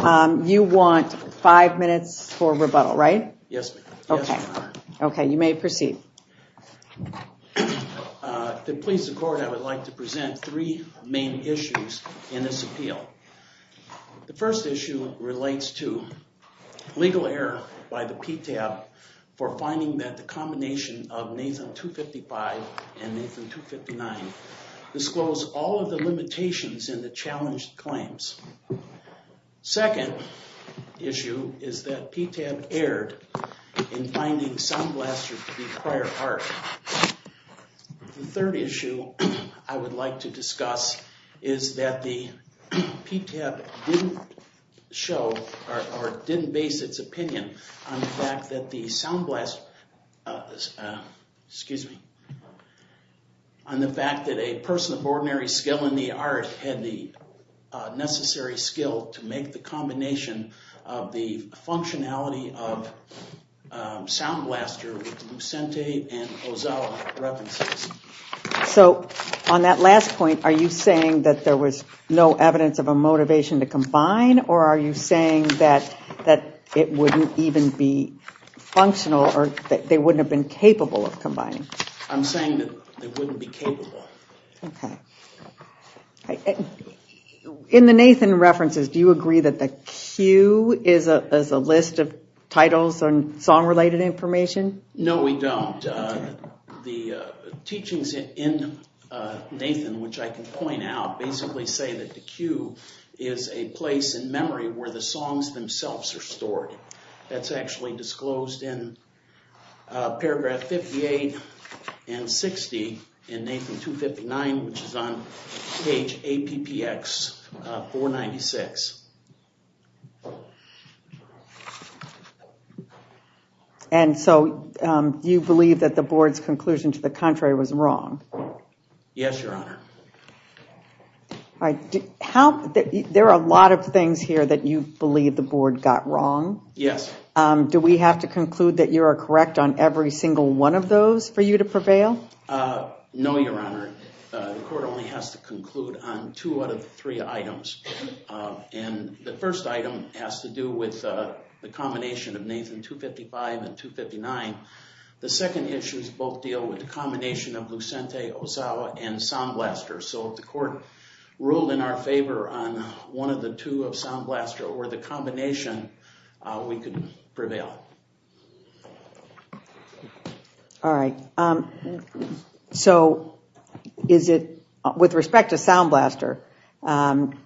You want five minutes for rebuttal, right? Yes. Okay, you may proceed. To please the court, I would like to present three main issues in this appeal. The first issue relates to legal error by the PTAB for finding that the combination of Nathan-255 and Nathan-259 disclose all of the limitations in the challenged claims. Second issue is that PTAB erred in finding sound blasters to be prior art. The third issue I would like to discuss is that the PTAB didn't show or didn't base its opinion on the fact that the sound blast, excuse me, on the fact that a person of ordinary skill in the art had the necessary skill to make the combination of the functionality of sound blaster with Lucente and Ozawa references. So on that last point, are you saying that there was no evidence of a motivation to combine or are you saying that that it wouldn't even be functional or that they wouldn't have been capable of combining? I'm saying that they wouldn't be capable. In the Nathan references, do you agree that the cue is a list of titles and song related information? No, we don't. The teachings in Nathan, which I can point out, basically say that the cue is a place in memory where the songs themselves are stored. That's actually disclosed in 160 in Nathan 259, which is on page APPX 496. And so you believe that the board's conclusion to the contrary was wrong? Yes, Your Honor. There are a lot of things here that you believe the board got wrong. Yes. Do we have to conclude that you are correct on every single one of those for you to prevail? No, Your Honor. The court only has to conclude on two out of three items. And the first item has to do with the combination of Nathan 255 and 259. The second issues both deal with the combination of Lucente, Ozawa, and sound blaster. So if the court ruled in our favor on one of the two of sound blaster or the combination, we could prevail. All right, so is it, with respect to sound blaster,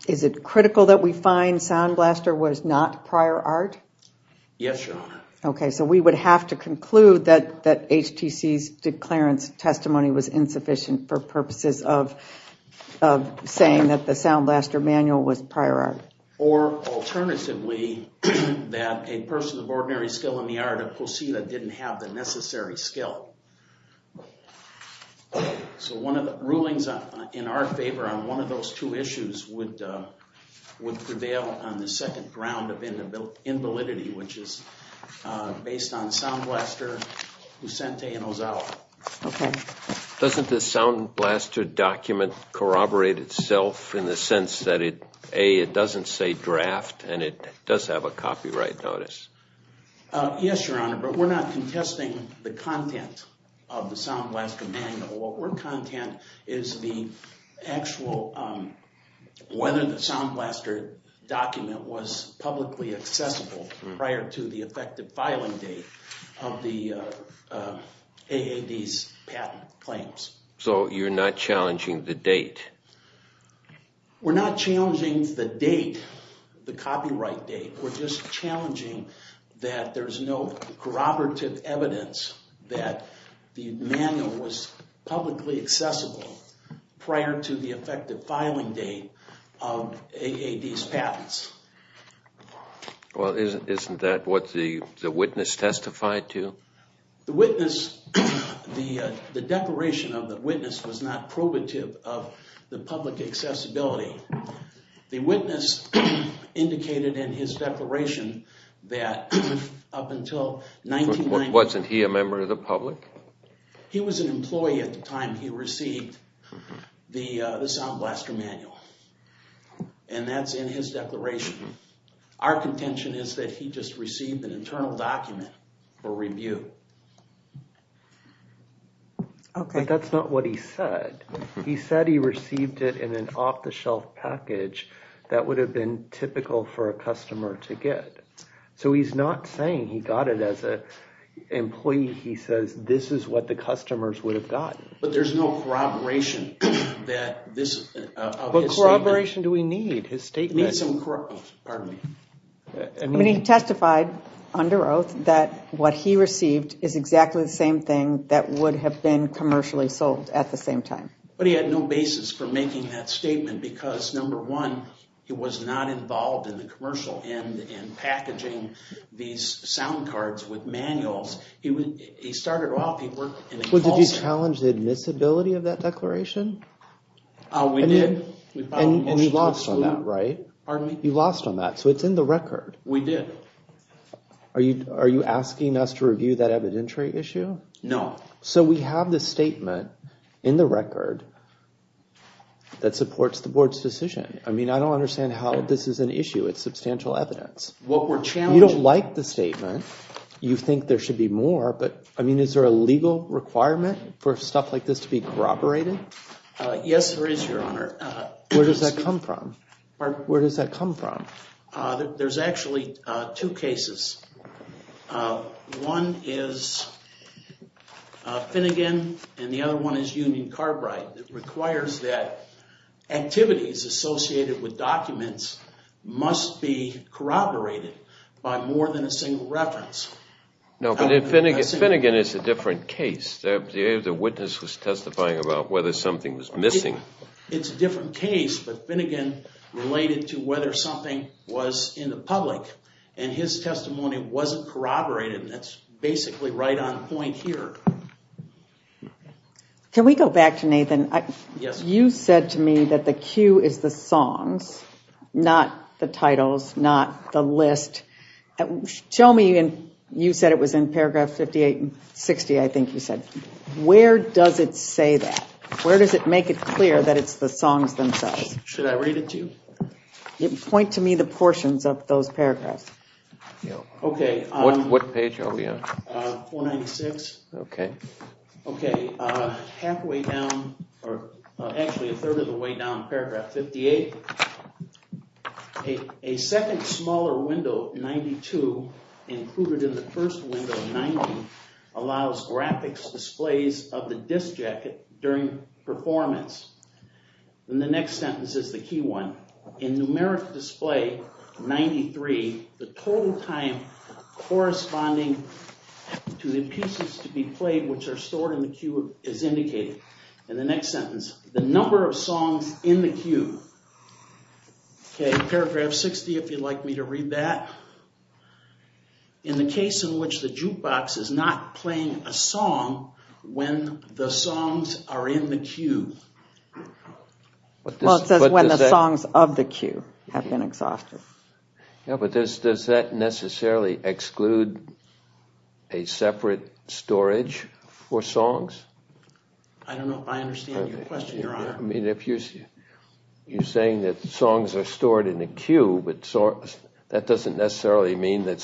is it critical that we find sound blaster was not prior art? Yes, Your Honor. Okay, so we would have to conclude that that HTC's declarence testimony was insufficient for purposes of saying that the sound blaster manual was prior art. Or alternatively, that a person of ordinary skill in the art of cosina didn't have the necessary skill. So one of the rulings in our favor on one of those two issues would prevail on the second ground of invalidity, which is based on sound blaster, Lucente, and Ozawa. Okay. Doesn't this sound blaster document corroborate itself in the sense that it, A, it doesn't say draft and it does have a copyright notice? Yes, Your Honor, but we're not contesting the content of the sound blaster manual. What we're content is the actual, whether the sound blaster document was publicly accessible prior to the effective the date. We're not challenging the date, the copyright date, we're just challenging that there's no corroborative evidence that the manual was publicly accessible prior to the effective filing date of AAD's patents. Well, isn't that what the witness testified to? The witness, the declaration of the witness was not probative of the public accessibility. The witness indicated in his declaration that up until 1990... Wasn't he a member of the public? He was an employee at the time he received the sound blaster manual, and that's in his declaration. Our contention is that he just received an internal document for review. Okay. But that's not what he said. He said he received it in an off-the-shelf package that would have been typical for a customer to get. So he's not saying he got it as a employee, he says this is what the customers would have gotten. But there's no corroboration that this... What corroboration do we need? I mean, he testified under oath that what he received is exactly the same thing that would have been commercially sold at the same time. But he had no basis for making that statement because, number one, he was not involved in the commercial and in packaging these sound cards with manuals. He started off, he worked in a call center. Well, did you challenge the admissibility of that declaration? We did. And you lost on that, right? You lost on that, so it's in the record. We did. Are you asking us to review that evidentiary issue? No. So we have this statement in the record that supports the board's decision. I mean, I don't understand how this is an issue. It's substantial evidence. What we're challenging... You don't like the statement, you think there should be more, but I mean, is there a legal requirement for stuff like this to be corroborated? Yes, there is, Your Honor. Where does that come from? Where does that come from? There's actually two cases. One is Finnegan and the other one is Union Carbide. It requires that activities associated with documents must be corroborated by more than a single reference. No, but Finnegan is a different case. The witness was testifying about whether something was missing. It's a different case, but Finnegan related to whether something was in the public and his testimony wasn't corroborated. That's basically right on point here. Can we go back to Nathan? Yes. You said to me that the cue is the songs, not the titles, not the list. Tell me, and you said it was in paragraph 58 and 60, I think you said, where does it say that? Where does it make it clear that it's the songs themselves? Should I read it to you? Point to me the portions of those paragraphs. Okay, what page are we on? 196. Okay. Halfway down, or actually a third of the way down paragraph 58. A second smaller window, 92, included in the first window, 90, allows graphics displays of the disc jacket during performance. In the next sentence, is the key one, in numeric display 93, the total time corresponding to the pieces to be played which are stored in the cue is indicated. In the next sentence, the number of songs in the cue. Okay, paragraph 60, if you'd like me to read that. In the case in which the jukebox is not playing a song when the songs of the cue have been exhausted. Yeah, but does that necessarily exclude a separate storage for songs? I don't know if I understand your question, Your Honor. I mean, if you're saying that songs are stored in a cue, but that doesn't necessarily mean that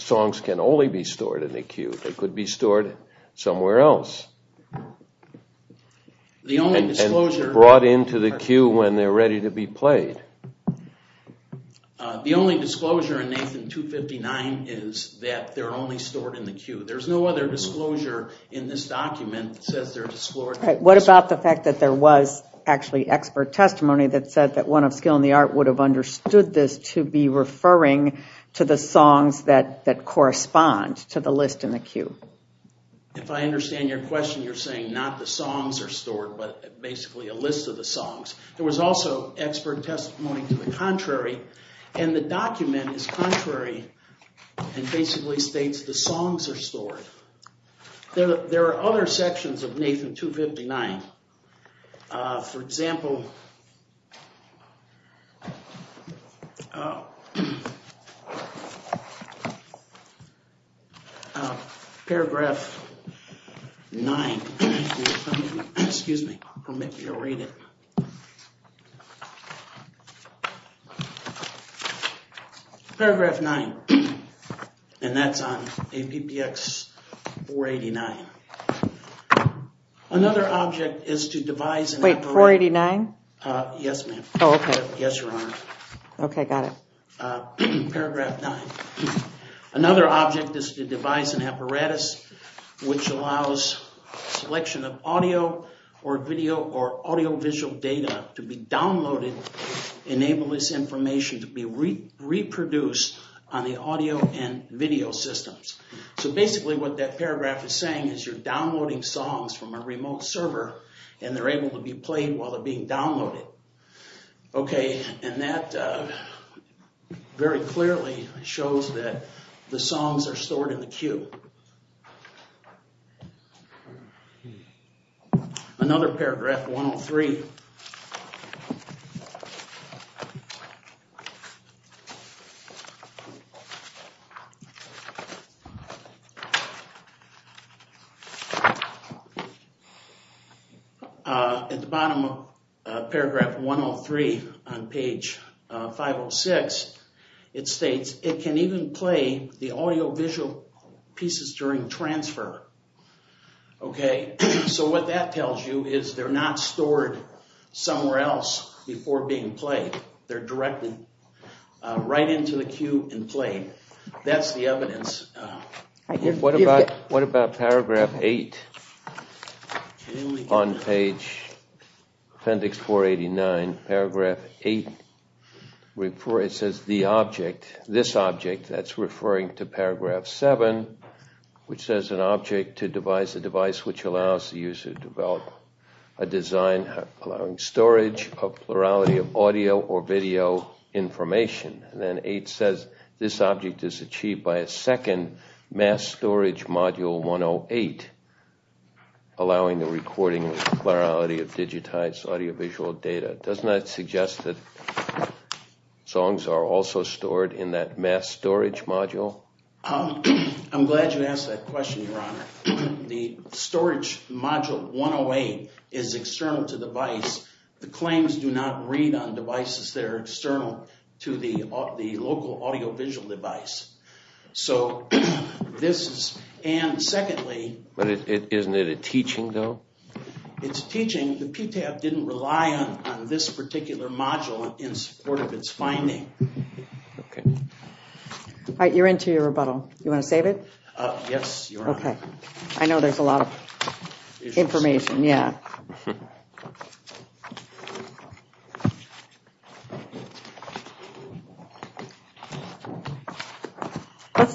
songs can only be stored in a cue. They could be stored somewhere else. The only disclosure brought into the case is that they're ready to be played. The only disclosure in Nathan 259 is that they're only stored in the cue. There's no other disclosure in this document that says they're disclosed. What about the fact that there was actually expert testimony that said that one of skill in the art would have understood this to be referring to the songs that that correspond to the list in the cue? If I understand your question, you're saying not the songs are stored, but basically a also expert testimony to the contrary, and the document is contrary and basically states the songs are stored. There are other sections of Nathan 259, for example, paragraph 9, and that's on APBX 489. Another object is to devise an apparatus which allows selection of audio or video or audiovisual data to be downloaded, enable this information to be reproduced on the audio and video systems. So basically what that paragraph is saying is you're downloading songs from a remote server and they're able to be played while they're being downloaded. Okay, and that very clearly shows that the songs are stored in the cue. Another paragraph 103. At the bottom of paragraph 103 on page 506, it states it can even play the audiovisual pieces during transfer. Okay, so what that tells you is they're not stored somewhere else before being played. They're directed right into the cue and played. That's the evidence. What about paragraph 8 on page appendix 489? Paragraph 8, it says the object, this object, that's referring to paragraph 7, which says an object to devise a device which allows the user to develop a design allowing storage of plurality of audio or video information. Then 8 says this object is achieved by a second mass storage module 108, allowing the recording of plurality of digitized audiovisual data. Doesn't that suggest that songs are also stored in that mass storage module? I'm glad you asked that question, Your Honor. The storage module 108 is external to device. The claims do not read on devices that are external to the local audiovisual device. So this is, and secondly... But isn't it a teaching though? It's teaching. The PTAB didn't rely on this particular module in support of its finding. You're into your rebuttal. You want to save it? Yes, Your Honor. Okay, I know there's a lot of information.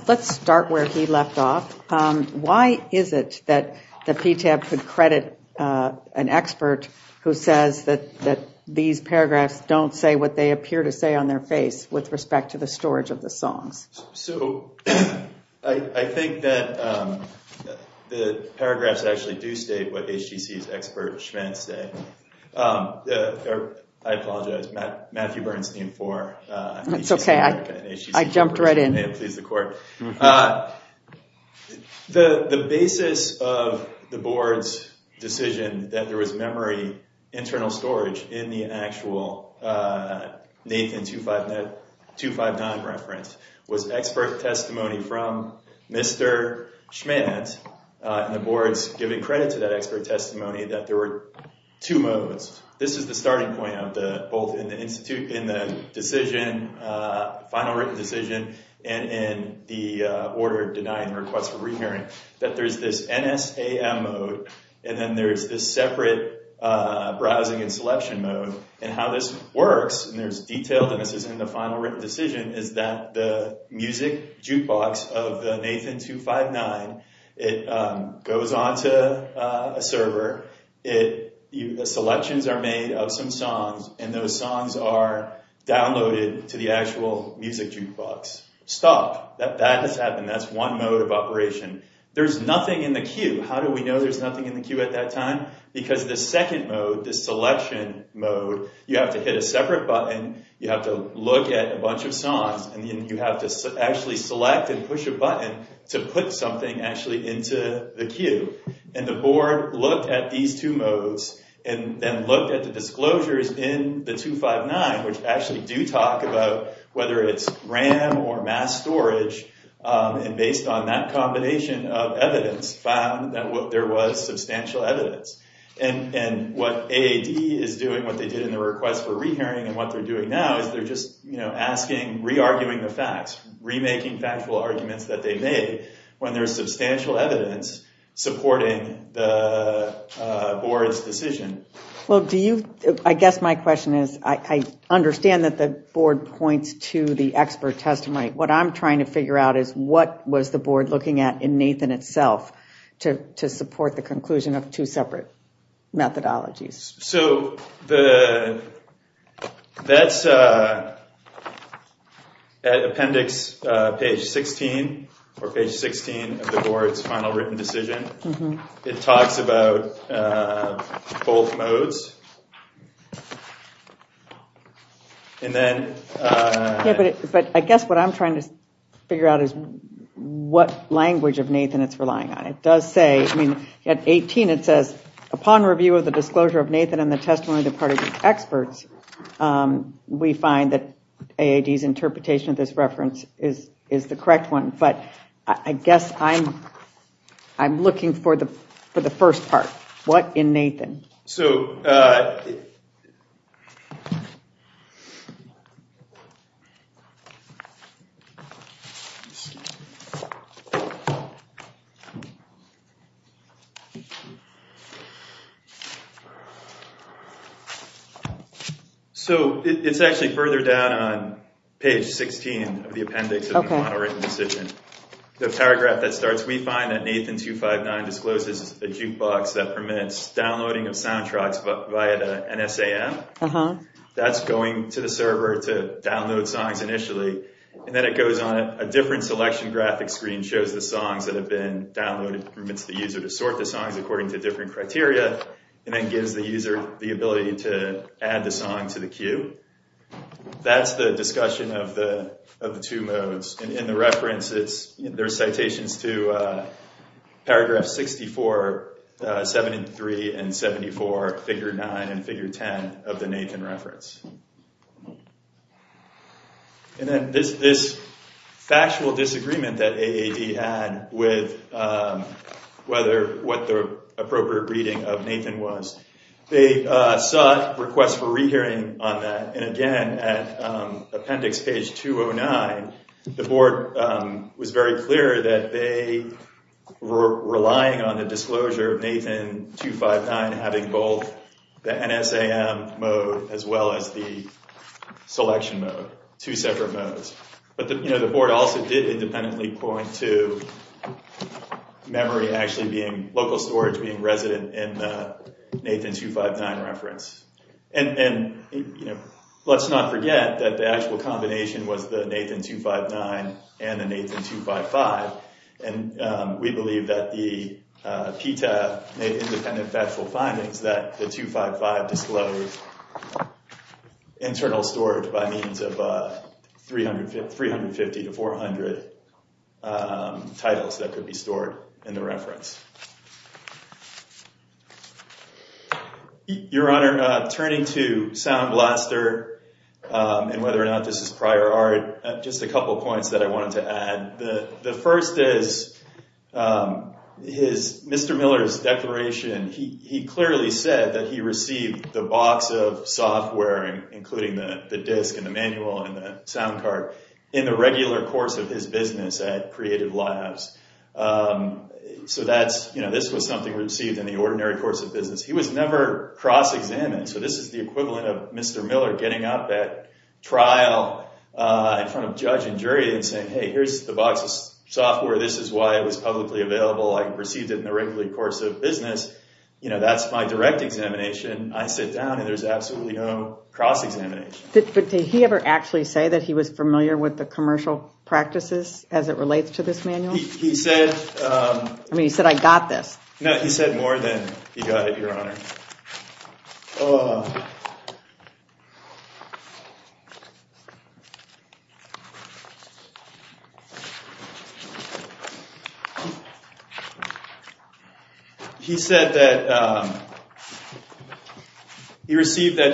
Let's start where he left off. Why is it that the PTAB could credit an expert who says that these paragraphs don't say what they appear to say on their face with respect to the storage of the songs? So, I think that the paragraphs actually do state what HGC's expert, Schmantz, said. I apologize, Matthew Bernstein IV. That's okay, I jumped right in. May it please the Court. The basis of the board's decision that there was memory internal storage in the actual Nathan 259 reference was expert testimony from Mr. Schmantz, and the board's giving credit to that expert testimony that there were two modes. This is the starting point of the, both in the decision, final written decision, and in the order denying the request for re-hearing, that there's this NSAM mode, and then there's this separate browsing and selection mode, and how this works, and there's detail that misses in the final written decision, is that the music jukebox of the Nathan 259, it goes on to a server, selections are made of some songs, and those songs are downloaded to the actual music jukebox. Stop. That has happened. That's one mode of the queue at that time, because the second mode, the selection mode, you have to hit a separate button, you have to look at a bunch of songs, and then you have to actually select and push a button to put something actually into the queue, and the board looked at these two modes, and then looked at the disclosures in the 259, which actually do talk about whether it's RAM or mass storage, and based on that combination of evidence, found that there was substantial evidence, and what AAD is doing, what they did in the request for re-hearing, and what they're doing now, is they're just, you know, asking, re-arguing the facts, re-making factual arguments that they made, when there's substantial evidence supporting the board's decision. Well, do you, I guess my question is, I understand that the board points to the expert testimony. What I'm trying to figure out is, what was the board looking at in Nathan itself, to support the conclusion of two separate methodologies? So, that's at appendix page 16, or page 16 of the modes, and then... Yeah, but I guess what I'm trying to figure out is what language of Nathan it's relying on. It does say, I mean, at 18, it says, upon review of the disclosure of Nathan and the testimony of the party experts, we find that AAD's interpretation of this reference is the correct one, but I guess I'm looking for the first part. What in Nathan? So, so, it's actually further down on page 16 of the appendix of the model written decision. The paragraph that starts, we find that Nathan 259 discloses a jukebox that permits downloading of soundtracks via the NSAM. That's going to the server to download songs initially, and then it goes on a different selection graphic screen, shows the songs that have been downloaded, permits the user to sort the songs according to different criteria, and then gives the user the ability to add the song to the queue. That's the discussion of the two modes, and in the reference, there's citations to paragraph 64, 73, and 74, figure 9 and figure 10 of the Nathan reference. And then this factual disagreement that AAD had with what the appropriate reading of Nathan was, they sought requests for rehearing on that, and again, at appendix page 209, the board was very clear that they were relying on the disclosure of Nathan 259 having both the NSAM mode as well as the selection mode, two separate modes. But the board also did independently point to memory actually being local storage being resident in the Nathan 259 reference. And let's not forget that the actual combination was the Nathan 259 and the Nathan 255, and we believe that the PTA, Nathan Independent Factual Findings, that the 255 disclosed internal storage by means of 350 to 400 titles that could be stored in the reference. Your Honor, turning to Sound Blaster and whether or not this is prior art, just a couple points that I wanted to add. The first is Mr. Miller's declaration. He clearly said that he received the box of software, including the disc and the manual and the sound in the regular course of his business at Creative Labs. So this was something received in the ordinary course of business. He was never cross-examined. So this is the equivalent of Mr. Miller getting up at trial in front of judge and jury and saying, hey, here's the box of software. This is why it was publicly available. I received it in the regular course of business. That's my direct examination. I sit down and there's absolutely no cross-examination. Did he ever actually say that he was familiar with the commercial practices as it relates to this manual? He said, I mean, he said, I got this. No, he said more than he got it, Your Honor. He said that he received it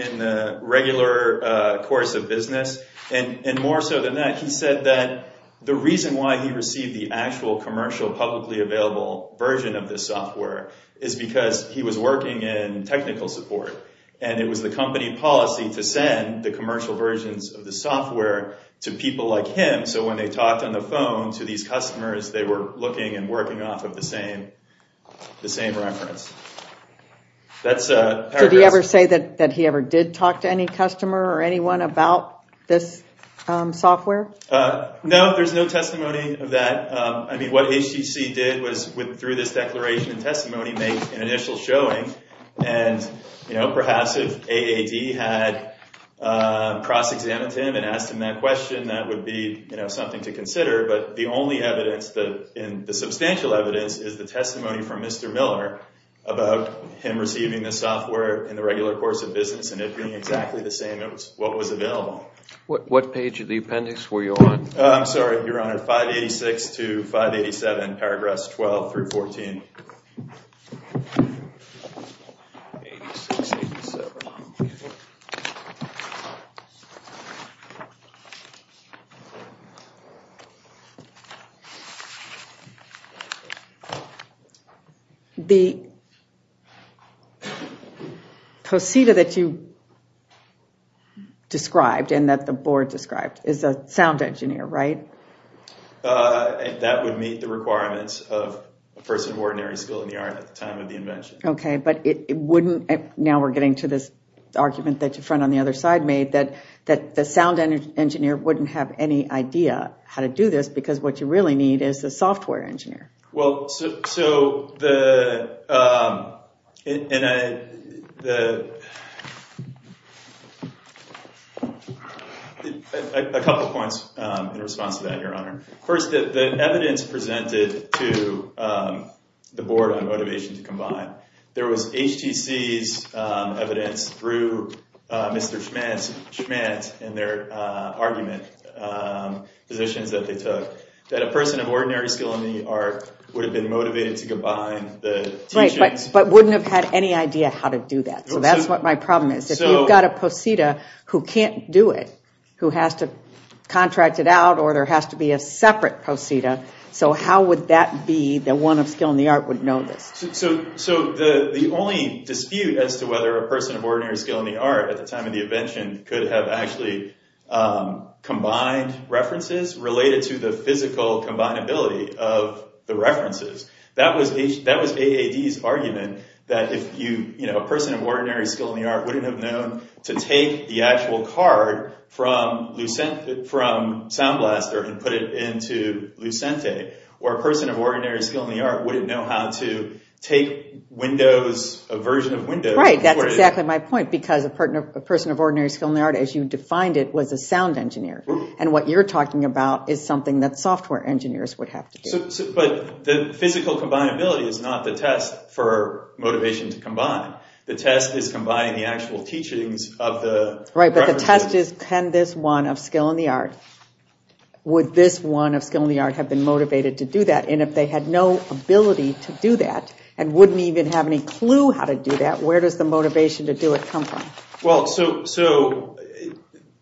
in the regular course of business. And more so than that, he said that the reason why he received the actual commercial publicly available version of this software is because he was working in technical support and it was the company policy to send the commercial versions of the software to people like him. So when they talked on the phone to these customers, they were looking and working off of the same reference. Did he ever say that he ever did talk to any customer or anyone about this software? No, there's no testimony of that. I mean, what HCC did was, through this declaration and testimony, make an initial showing. And perhaps if AAD had cross-examined him and asked him that question, that would be something to consider. But the only evidence, the substantial evidence, is the testimony from Mr. Miller about him receiving the software in the regular course of business and it being exactly the same as what was available. What page of the appendix were you on? I'm sorry, Your Honor, 586 to 587, paragraphs 12 through 14. The procedure that you described and that the board described is a sound engineer, right? Uh, that would meet the requirements of a person of ordinary skill in the art at the time of the invention. Okay, but it wouldn't, now we're getting to this argument that your friend on the other side made, that the sound engineer wouldn't have any idea how to do this because what you really need is a software engineer. Well, so, a couple points in response to that, Your Honor. First, the evidence presented to the board on motivation to combine, there was HTC's evidence through Mr. Schmantz and their argument, positions that they took, that a person of ordinary skill in the art would have been motivated to combine the teachings. Right, but wouldn't have had any idea how to do that. So that's what my problem is. If you've got a posita who can't do it, who has to contract it out, or there has to be a separate posita, so how would that be the one of skill in the art would know this? So the only dispute as to whether a person of ordinary skill in the art at the time of the invention could have actually combined references related to the physical combinability of the references. That was AAD's argument that if you, you know, a person of ordinary skill in the art wouldn't have known to take the actual card from Sound Blaster and put it into Lucente, or a person of ordinary skill in the art wouldn't know how to take Windows, a version of Windows. Right, that's exactly my point, because a person of ordinary skill in the art as you defined it was a sound engineer, and what you're talking about is something that software engineers would have to do. But the physical combinability is not the test for motivation to combine, the test is combining the actual teachings of the. Right, but the test is can this one of skill in the art, would this one of skill in the art have been motivated to that and wouldn't even have any clue how to do that? Where does the motivation to do it come from? Well, so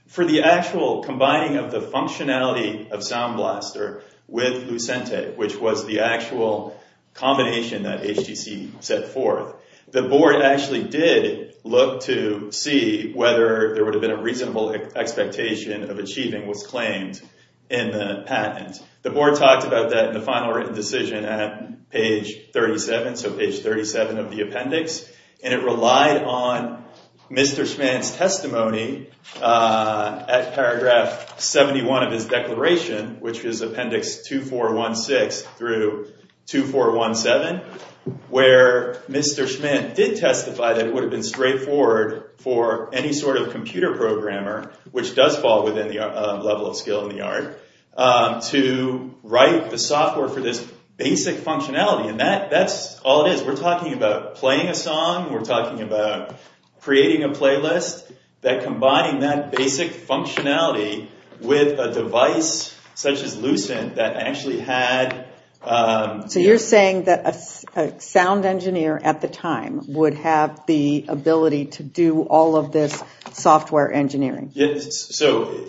for the actual combining of the functionality of Sound Blaster with Lucente, which was the actual combination that HTC set forth, the board actually did look to see whether there would have been a reasonable expectation of achieving what's claimed in the patent. The board talked about that in the final written decision at page 37, so page 37 of the appendix, and it relied on Mr. Schmitt's testimony at paragraph 71 of his declaration, which is appendix 2416 through 2417, where Mr. Schmitt did testify that it would have been straightforward for any sort of the software for this basic functionality, and that's all it is. We're talking about playing a song, we're talking about creating a playlist, that combining that basic functionality with a device such as Lucente that actually had... So you're saying that a sound engineer at the time would have the ability to do all of this software engineering? Yes, so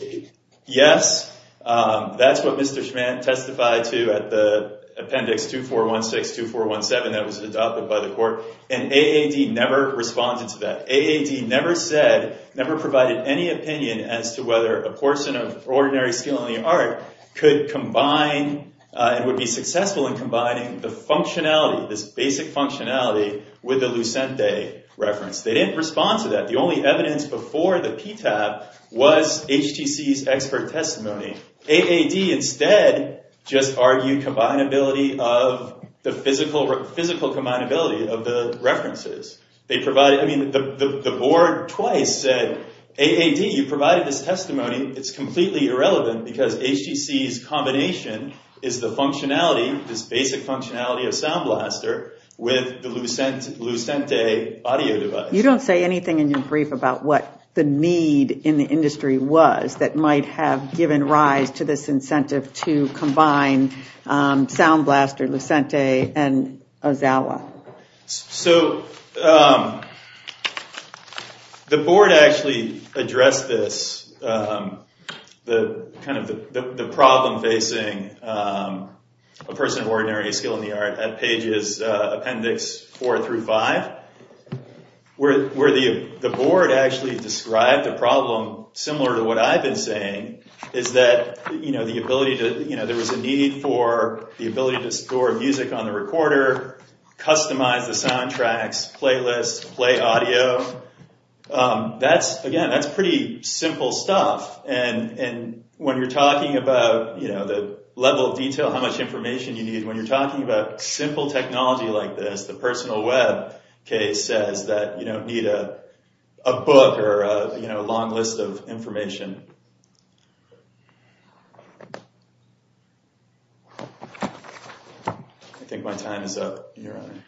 yes, that's what Mr. Schmitt testified to at the appendix 2416-2417 that was adopted by the court, and AAD never responded to that. AAD never said, never provided any opinion as to whether a portion of Ordinary Skill in the Art could combine and would be successful in combining the functionality, this basic functionality, with the Lucente reference. They didn't respond to that. The only evidence before the PTAB was HTC's expert testimony. AAD instead just argued combinability of the physical combinability of the references. They provided, I mean, the board twice said, AAD, you provided this testimony, it's completely irrelevant because HTC's combination is the functionality, this basic functionality of SoundBlaster with the Lucente audio device. You don't say anything in your brief about what the need in the industry was that might have given rise to this incentive to combine SoundBlaster, Lucente, and Ozawa. So the board actually addressed this, the kind of the problem facing a person of Ordinary Skill in the Art at pages appendix four through five, where the board actually described the problem similar to what I've been saying, is that the ability to, there was a need for the ability to store music on the recorder, customize the soundtracks, playlists, play audio. That's, again, that's pretty simple stuff. And when you're talking about the level of detail, how much information you need, when you're talking about simple technology like this, the personal web case says that you don't need a book or a long list of information. I think my time is up, Your Honor.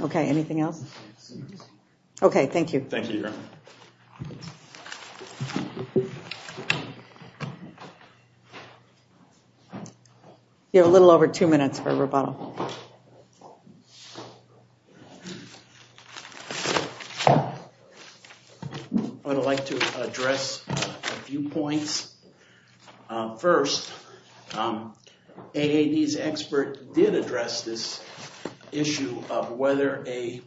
Okay, anything else? Okay, thank you. Thank you, Your Honor. You have a little over two minutes for rebuttal. I'd like to address a few points. First, AAD's expert did address this issue of whether a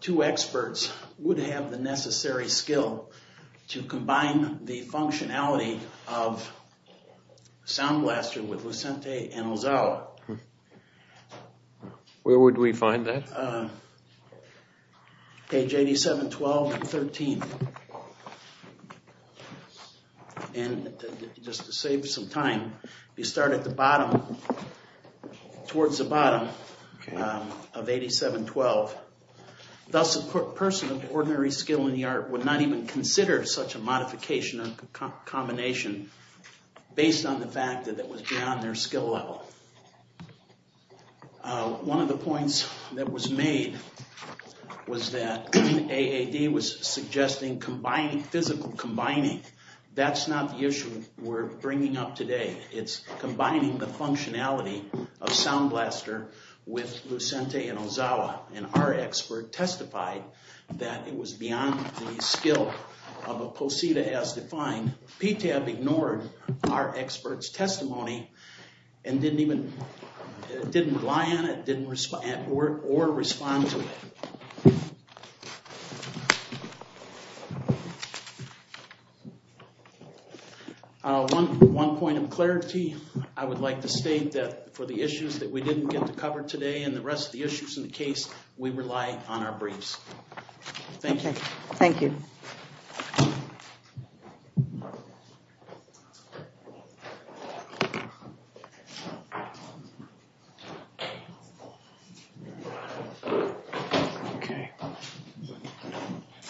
two experts would have the necessary skill to combine the functionality of Sound Blaster with Lucente and Ozawa. Where would we find that? Page 87-12 and 13. And just to save some time, you start at the bottom, towards the bottom of 87-12. Thus, a person of ordinary skill in the art would not even consider such a modification or combination based on the fact that it was beyond their skill level. One of the points that was made was that AAD was suggesting physical combining. That's not the issue we're bringing up today. It's combining the functionality of Sound Blaster with Lucente and Ozawa. And our expert testified that it was beyond the skill of a POSITA as defined. PTAB ignored our expert's testimony and didn't even didn't rely on it or respond to it. One point of clarity. I would like to state that for the issues that we didn't get to cover today and the rest of the issues in the case, we rely on our briefs. Thank you. Thank you.